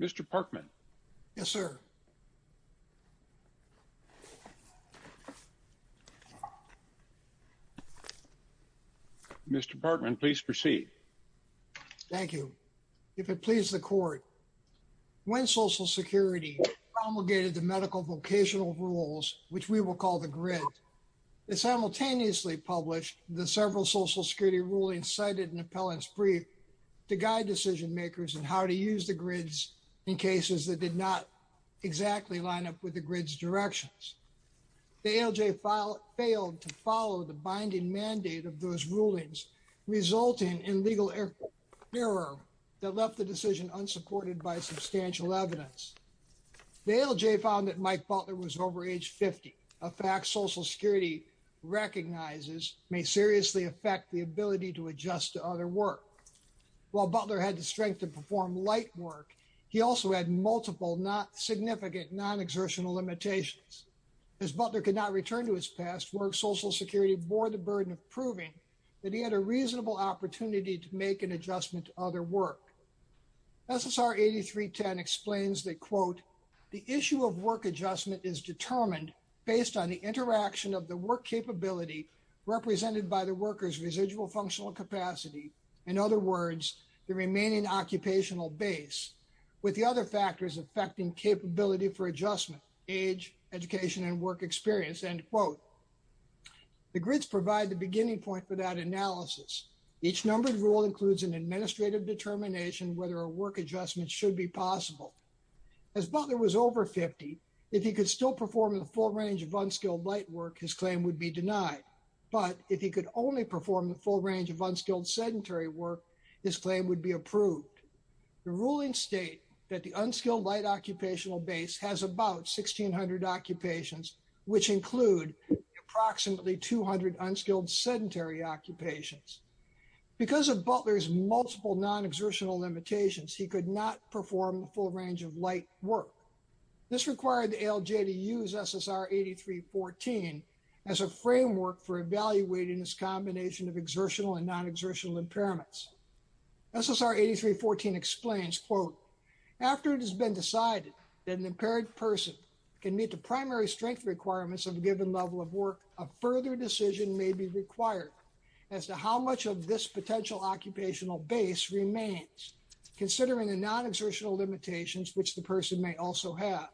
Mr. Parkman. Yes, sir. Mr. Parkman, please proceed. Thank you. If it pleases the court, when Social Security promulgated the medical vocational rules, which we will call the GRID, it simultaneously published the several Social Security rulings cited in Appellant's brief to guide decision makers in how to use the GRIDs in cases that did not exactly line up with the GRID's directions. The ALJ failed to follow the binding mandate of those rulings, resulting in legal error that left the decision unsupported by substantial evidence. The ALJ found that Mike Butler was over age 50, a fact Social Security recognizes may seriously affect the ability to adjust to other work. While Butler had the strength to perform light work, he also had multiple not significant non-exertional limitations. As Butler could not return to his past work, Social Security bore the burden of proving that he had a reasonable opportunity to make an adjustment to other work. SSR 8310 explains that, quote, the issue of work adjustment is determined based on the interaction of the work capability represented by the worker's residual functional capacity, in other words, the remaining occupational base, with the other factors affecting capability for adjustment, age, education, and work experience, end quote. The GRIDs provide the beginning point for that analysis. Each numbered rule includes an administrative determination whether a work adjustment should be possible. As Butler was over 50, if he could still perform the full range of unskilled light work, his claim would be denied. But if he could only perform the full range of unskilled sedentary work, his claim would be approved. The rulings state that the unskilled light occupational base has about 1,600 occupations, which include approximately 200 unskilled sedentary occupations. Because of Butler's multiple non-exertional limitations, he could not perform a full range of light work. This required the ALJ to use SSR 8314 as a framework for evaluating this combination of exertional and non-exertional impairments. SSR 8314 explains, quote, after it has been decided that an impaired person can meet the primary strength requirements of a given level of work, a further decision may be required as to how much of this potential occupational base remains, considering the non-exertional limitations which the person may also have.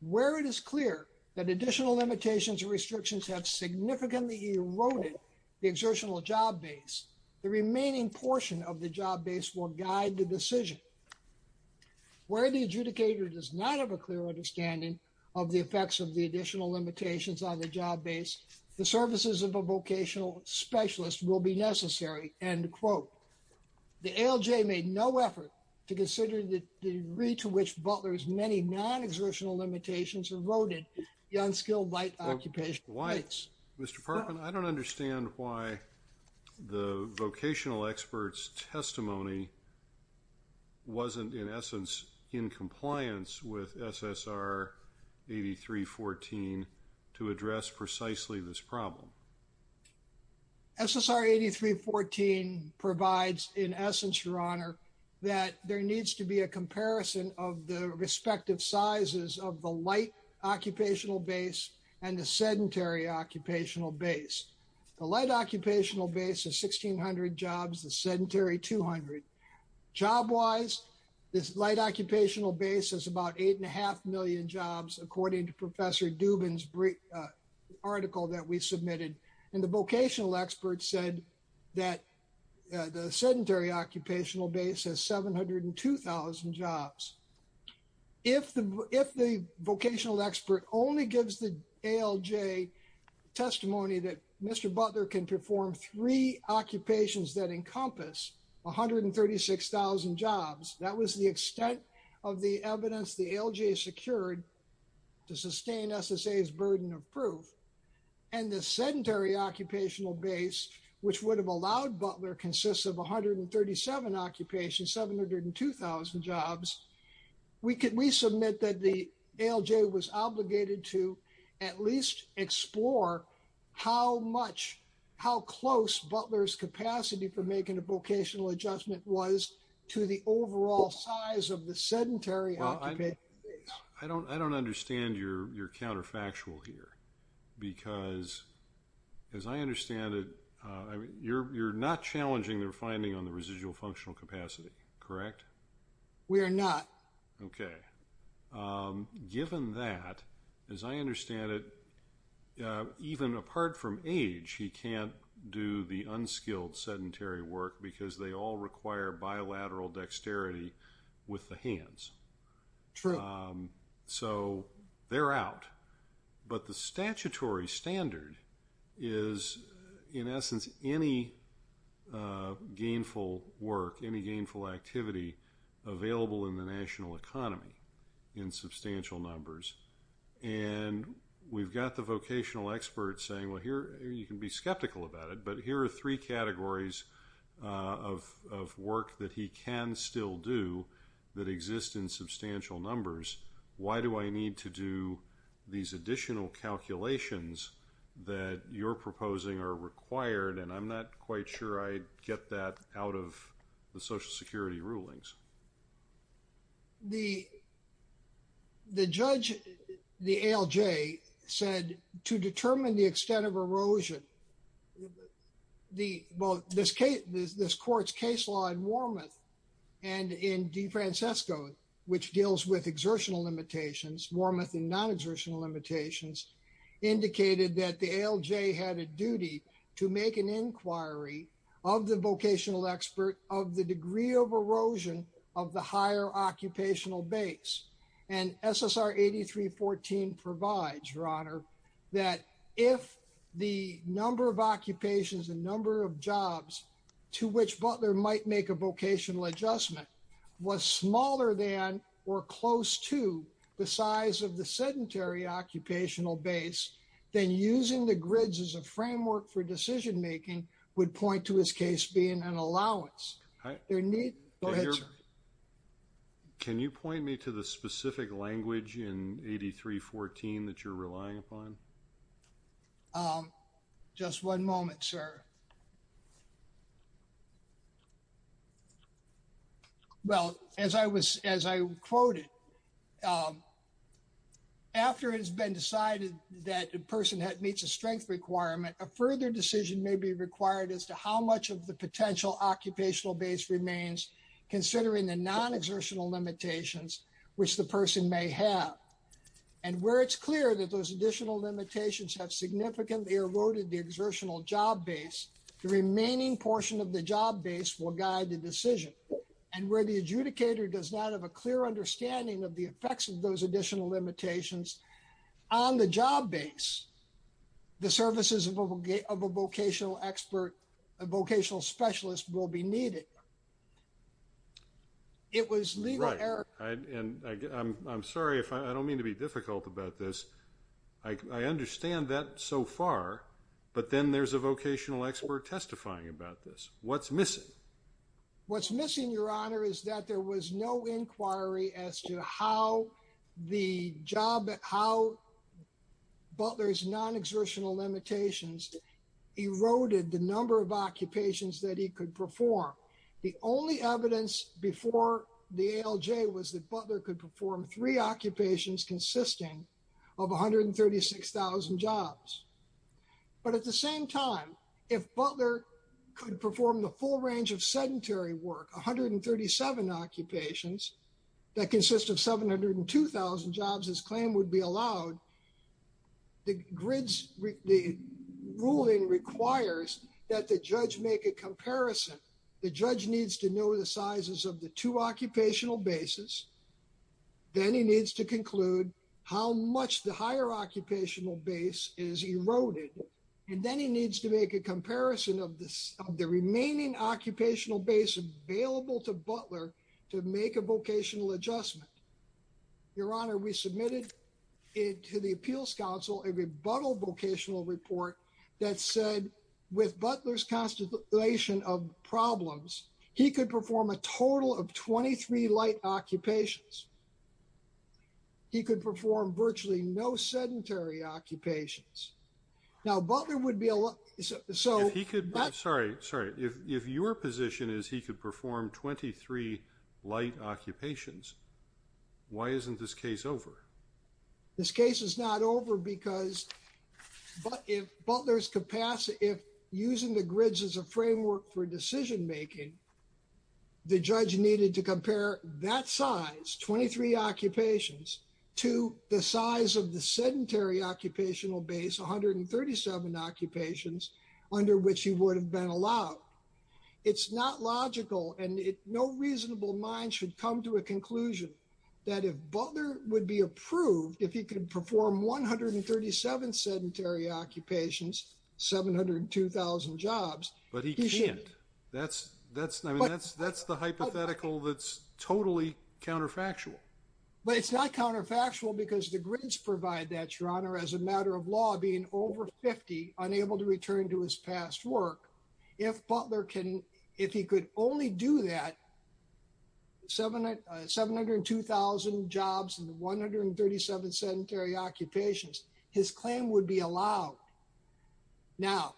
Where it is clear that additional limitations or restrictions have significantly eroded the exertional job base, the remaining portion of the job base will guide the decision. Where the adjudicator does not have a clear understanding of the effects of the additional limitations on the job base, the services of a vocational specialist will be necessary, end quote. The ALJ made no effort to consider the degree to which Butler's many non-exertional limitations eroded the unskilled light occupational base. Mr. Parkin, I don't understand why the vocational expert's testimony wasn't in essence in compliance with SSR 8314 to address precisely this problem. SSR 8314 provides, in essence, Your Honor, that there needs to be a comparison of the light occupational base. The light occupational base is 1,600 jobs, the sedentary 200. Job-wise, this light occupational base is about 8.5 million jobs, according to Professor Dubin's article that we submitted. And the vocational expert said that the sedentary occupational base has 702,000 jobs. If the vocational expert only gives the ALJ testimony that Mr. Butler can perform three occupations that encompass 136,000 jobs, that was the extent of the evidence the ALJ secured to sustain SSA's burden of proof. And the sedentary occupational base, which would have allowed Butler consists of 137 occupations, 702,000 jobs. We submit that the ALJ was obligated to at least explore how much, how close Butler's capacity for making a vocational adjustment was to the overall size of the sedentary occupational base. I don't understand your counterfactual here, because as I understand it, you're not challenging their finding on the residual functional capacity, correct? We are not. Okay. Given that, as I understand it, even apart from age, he can't do the unskilled sedentary work because they all require bilateral dexterity with the hands. True. So they're out. But the statutory standard is, in essence, any gainful work, any gainful activity available in the national economy in substantial numbers. And we've got the vocational experts saying, well, here, you can be skeptical about it, but here are three categories of work that he can still do that exist in substantial numbers. Why do I need to do these additional calculations that you're proposing are required? And I'm not quite sure I get that out of the Social Security rulings. The judge, the ALJ, said to determine the extent of erosion, well, this court's case law in Wormuth and in DeFrancisco, which deals with exertional limitations, Wormuth and non-exertional limitations, indicated that the ALJ had a duty to make an inquiry of the vocational expert of the degree of erosion of the higher occupational base. And SSR 8314 provides, Your Honor, that if the number of occupations and number of jobs to which Butler might make a vocational adjustment was smaller than or close to the size of the sedentary occupational base, then using the grids as a framework for decision-making would point to his case being an allowance. Go ahead, sir. Can you point me to the specific language in 8314 that you're relying upon? Just one moment, sir. Well, as I quoted, after it has been decided that a person meets a strength requirement, a further decision may be required as to how much of the potential occupational base remains considering the non-exertional limitations which the person may have. And where it's clear that those additional limitations have significantly eroded the exertional job base, the remaining portion of the job base will guide the decision. And where the adjudicator does not have a clear understanding of the effects of those of a vocational expert, a vocational specialist will be needed. It was legal error. Right. And I'm sorry if I don't mean to be difficult about this. I understand that so far, but then there's a vocational expert testifying about this. What's missing? What's missing, Your Honor, is that there was no inquiry as to how the job, how Butler's non-exertional limitations eroded the number of occupations that he could perform. The only evidence before the ALJ was that Butler could perform three occupations consisting of 136,000 jobs. But at the same time, if Butler could perform the full range of sedentary work, 137 occupations that consist of 702,000 jobs, his claim would be allowed. The grids, the ruling requires that the judge make a comparison. The judge needs to know the sizes of the two occupational bases. Then he needs to conclude how much the higher occupational base is eroded. And then he needs to make a comparison of the remaining occupational base available to Butler to make a vocational adjustment. Your Honor, we submitted it to the Appeals Council, a rebuttal vocational report that said with Butler's constellation of problems, he could perform a total of 23 light occupations. He could perform virtually no sedentary occupations. Now, Butler would be allowed. Sorry, sorry. If your position is he could perform 23 light occupations, why isn't this case over? This case is not over because Butler's capacity, if using the grids as a framework for decision making, the judge needed to compare that size, 23 occupations, to the size of the sedentary occupational base, 137 occupations, under which he would have been allowed. It's not logical and no reasonable mind should come to a conclusion that if Butler would be approved, if he could perform 137 sedentary occupations, 702,000 jobs. But he can't. That's the hypothetical that's totally counterfactual. But it's not counterfactual because the grids provide that, Your Honor, as a matter of law, being over 50, unable to return to his past work. If Butler can, if he could only do that, 702,000 jobs and 137 sedentary occupations, his claim would be allowed. Now,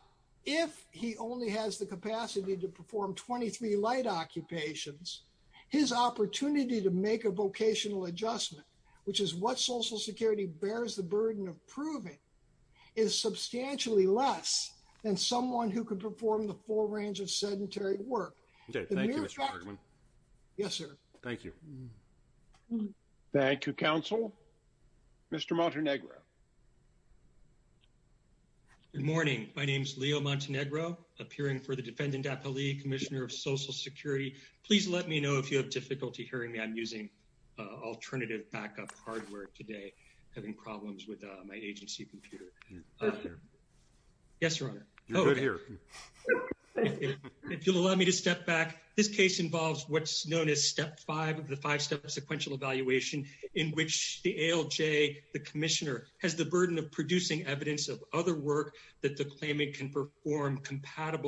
if he only has the capacity to perform 23 light occupations, his opportunity to make a vocational adjustment, which is what Social Security bears the burden of proving, is substantially less than someone who could perform the full range of sedentary work. Okay. Thank you, Mr. Bergman. Yes, sir. Thank you. Thank you, counsel. Mr. Montenegro. Good morning. My name is Leo Montenegro, appearing for the defendant appellee, Commissioner of Social Security. Please let me know if you have difficulty hearing me. I'm using alternative backup hardware today, having problems with my agency computer. Yes, Your Honor. You're good here. If you'll allow me to step back. This case involves what's known as step five of the five-step sequential evaluation in which the ALJ, the commissioner, has the burden of producing evidence of other work that the ALJ may not have.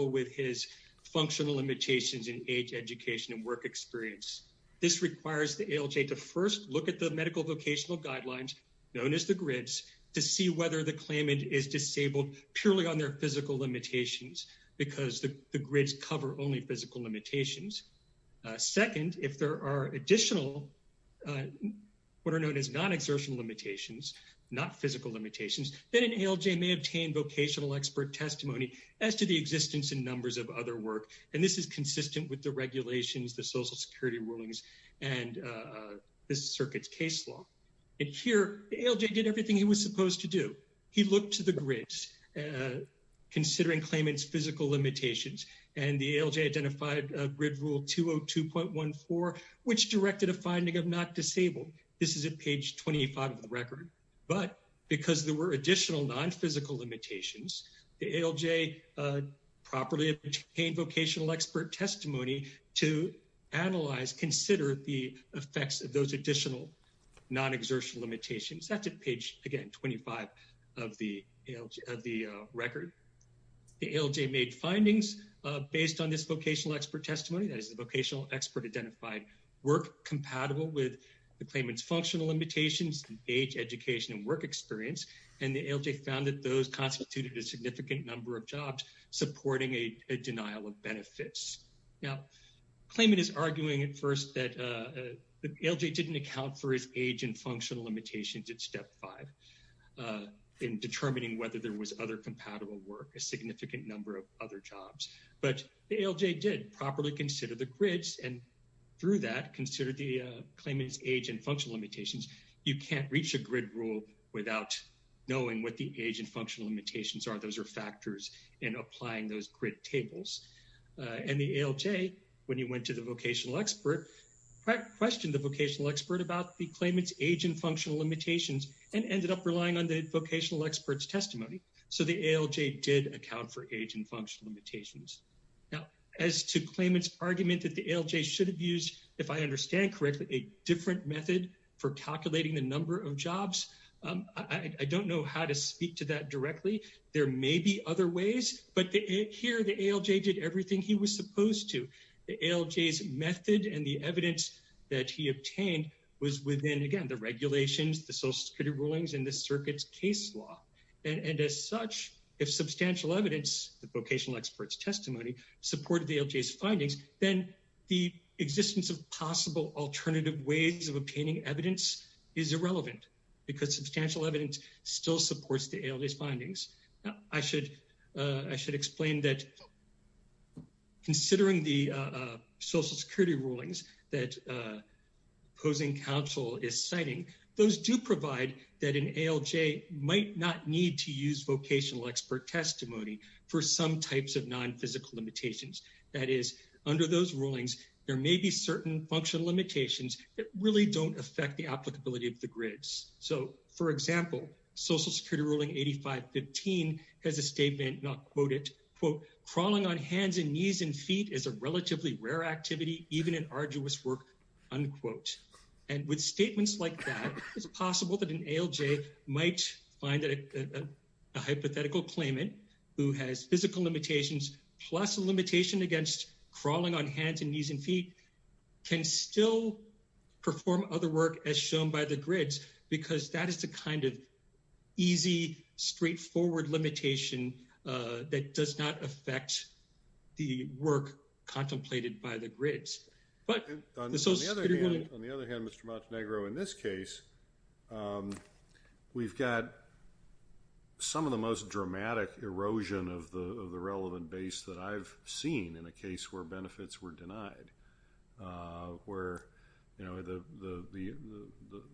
This requires the ALJ to first look at the medical vocational guidelines, known as the GRIDS, to see whether the claimant is disabled purely on their physical limitations, because the GRIDS cover only physical limitations. Second, if there are additional, what are known as non-exertion limitations, not physical limitations, then an ALJ may obtain vocational expert testimony as to the existence and numbers of other work. And this is consistent with the regulations, the Social Security rulings, and this circuit's case law. And here, the ALJ did everything he was supposed to do. He looked to the GRIDS, considering claimant's physical limitations, and the ALJ identified a GRID rule 202.14, which directed a finding of not disabled. This is at page 25 of the record. But because there were additional non-physical limitations, the ALJ properly obtained vocational expert testimony to analyze, consider the effects of those additional non-exertion limitations. That's at page, again, 25 of the record. The ALJ made findings based on this vocational expert testimony, that is the vocational expert work compatible with the claimant's functional limitations, age, education, and work experience. And the ALJ found that those constituted a significant number of jobs, supporting a denial of benefits. Now, claimant is arguing at first that the ALJ didn't account for his age and functional limitations at step five in determining whether there was other compatible work, a significant number of other jobs. But the ALJ did properly consider the GRIDS, and through that, considered the claimant's age and functional limitations. You can't reach a GRID rule without knowing what the age and functional limitations are. Those are factors in applying those GRID tables. And the ALJ, when you went to the vocational expert, questioned the vocational expert about the claimant's age and functional limitations, and ended up relying on the vocational expert's testimony. So the ALJ did account for age and functional limitations. Now, as to claimant's argument that the ALJ should have used, if I understand correctly, a different method for calculating the number of jobs, I don't know how to speak to that directly. There may be other ways, but here the ALJ did everything he was supposed to. The ALJ's method and the evidence that he obtained was within, again, the regulations, the social security rulings, and the circuit's case law. And as such, if substantial evidence, the vocational expert's testimony, supported the ALJ's findings, then the existence of possible alternative ways of obtaining evidence is irrelevant, because substantial evidence still supports the ALJ's findings. I should explain that considering the social security rulings that opposing counsel is vocational expert testimony for some types of non-physical limitations, that is, under those rulings, there may be certain functional limitations that really don't affect the applicability of the grids. So, for example, social security ruling 8515 has a statement, and I'll quote it, quote, crawling on hands and knees and feet is a relatively rare activity, even an arduous work, unquote. And with statements like that, it's possible that an ALJ might find a hypothetical claimant who has physical limitations, plus a limitation against crawling on hands and knees and feet, can still perform other work as shown by the grids, because that is the kind of easy, straightforward limitation that does not affect the work contemplated by the grids. But on the other hand, Mr. Montenegro, in this case, we've got some of the most dramatic erosion of the relevant base that I've seen in a case where benefits were denied, where, you know, the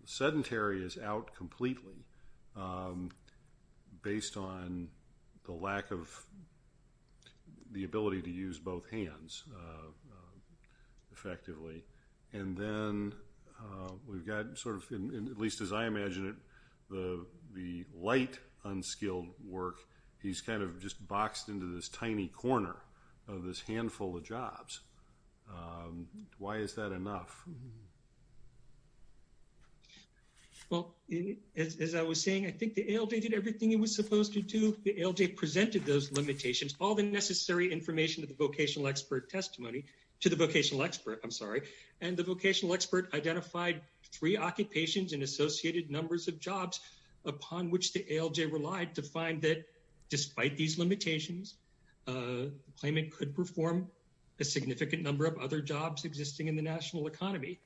sedentary is out completely based on the lack of the ability to use both hands effectively. And then we've got sort of, at least as I imagine it, the light, unskilled work, he's kind of just boxed into this tiny corner of this handful of jobs. Why is that enough? Well, as I was saying, I think the ALJ did everything it was supposed to do. The ALJ presented those limitations, all the necessary information to the vocational expert testimony, to the vocational expert, I'm sorry, and the vocational expert identified three occupations and associated numbers of jobs upon which the ALJ relied to find that despite these limitations, the claimant could perform a significant number of other jobs existing in the national economy.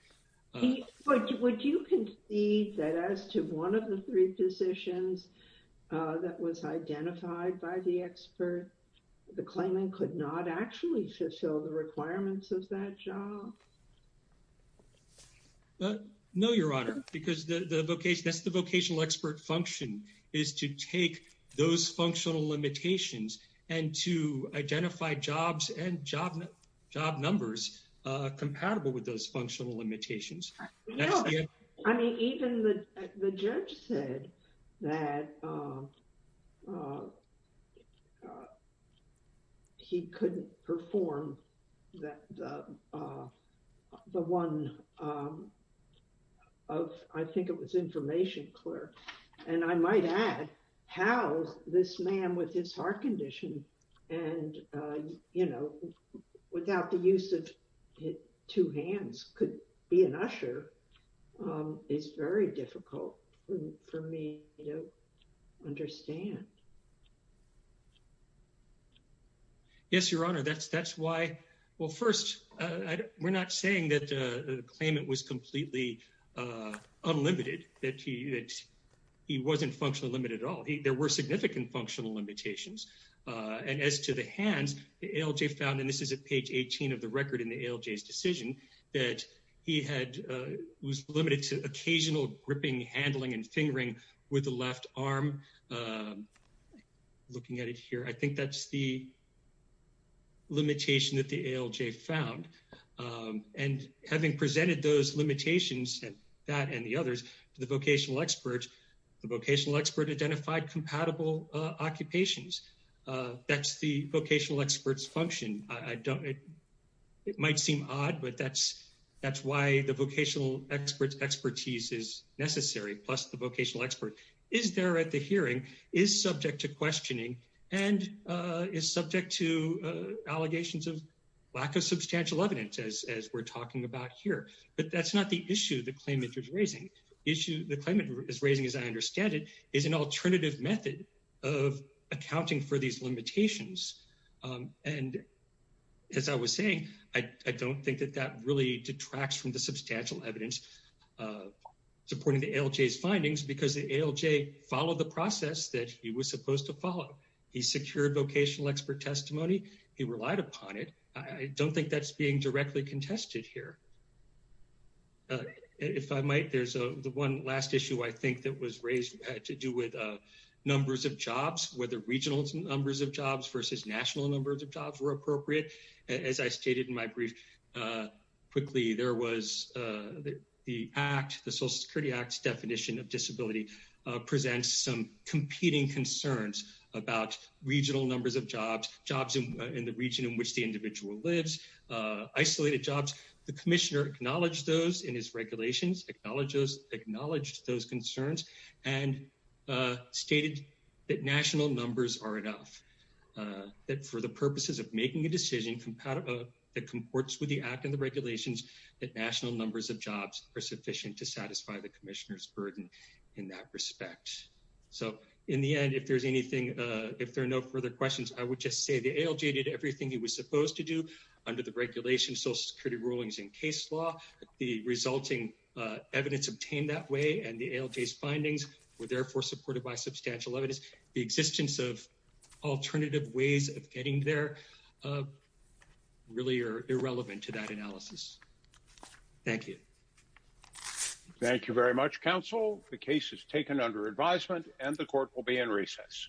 But would you concede that as to one of the three positions that was identified by the expert, the claimant could not actually fulfill the requirements of that job? No, Your Honor, because that's the vocational expert function, is to take those functional limitations and to identify jobs and job numbers compatible with those functional limitations. I mean, even the judge said that he couldn't perform the one of, I think it was information clerk, and I might add how this man with his heart condition and, you know, without the being an usher, it's very difficult for me to understand. Yes, Your Honor, that's why, well, first, we're not saying that the claimant was completely unlimited, that he wasn't functionally limited at all. There were significant functional limitations. And as to the hands, the ALJ found, and this is at page 18 of the record in the ALJ's decision, that he was limited to occasional gripping, handling, and fingering with the left arm. Looking at it here, I think that's the limitation that the ALJ found. And having presented those limitations, that and the others, to the vocational expert, the vocational expert identified compatible occupations. That's the vocational expert's function. I don't, it might seem odd, but that's why the vocational expert's expertise is necessary, plus the vocational expert is there at the hearing, is subject to questioning, and is subject to allegations of lack of substantial evidence, as we're talking about here. But that's not the issue the claimant is raising. The issue the claimant is raising, as I understand it, is an alternative method of as I was saying, I don't think that that really detracts from the substantial evidence supporting the ALJ's findings, because the ALJ followed the process that he was supposed to follow. He secured vocational expert testimony. He relied upon it. I don't think that's being directly contested here. If I might, there's the one last issue I think that was raised to do with numbers of jobs, whether regional numbers of jobs versus national numbers of jobs were appropriate. As I stated in my brief, quickly, there was the act, the Social Security Act's definition of disability presents some competing concerns about regional numbers of jobs, jobs in the region in which the individual lives, isolated jobs. The commissioner acknowledged those in his regulations, acknowledged those concerns, and stated that national numbers are enough, that for the purposes of making a decision that comports with the act and the regulations, that national numbers of jobs are sufficient to satisfy the commissioner's burden in that respect. So in the end, if there's anything, if there are no further questions, I would just say the ALJ did everything he was supposed to do under the regulation, Social Security rulings in case law. The resulting evidence obtained that way and the ALJ's findings were therefore supported by substantial evidence. The existence of alternative ways of getting there really are irrelevant to that analysis. Thank you. Thank you very much, counsel. The case is taken under advisement and the court will be in recess.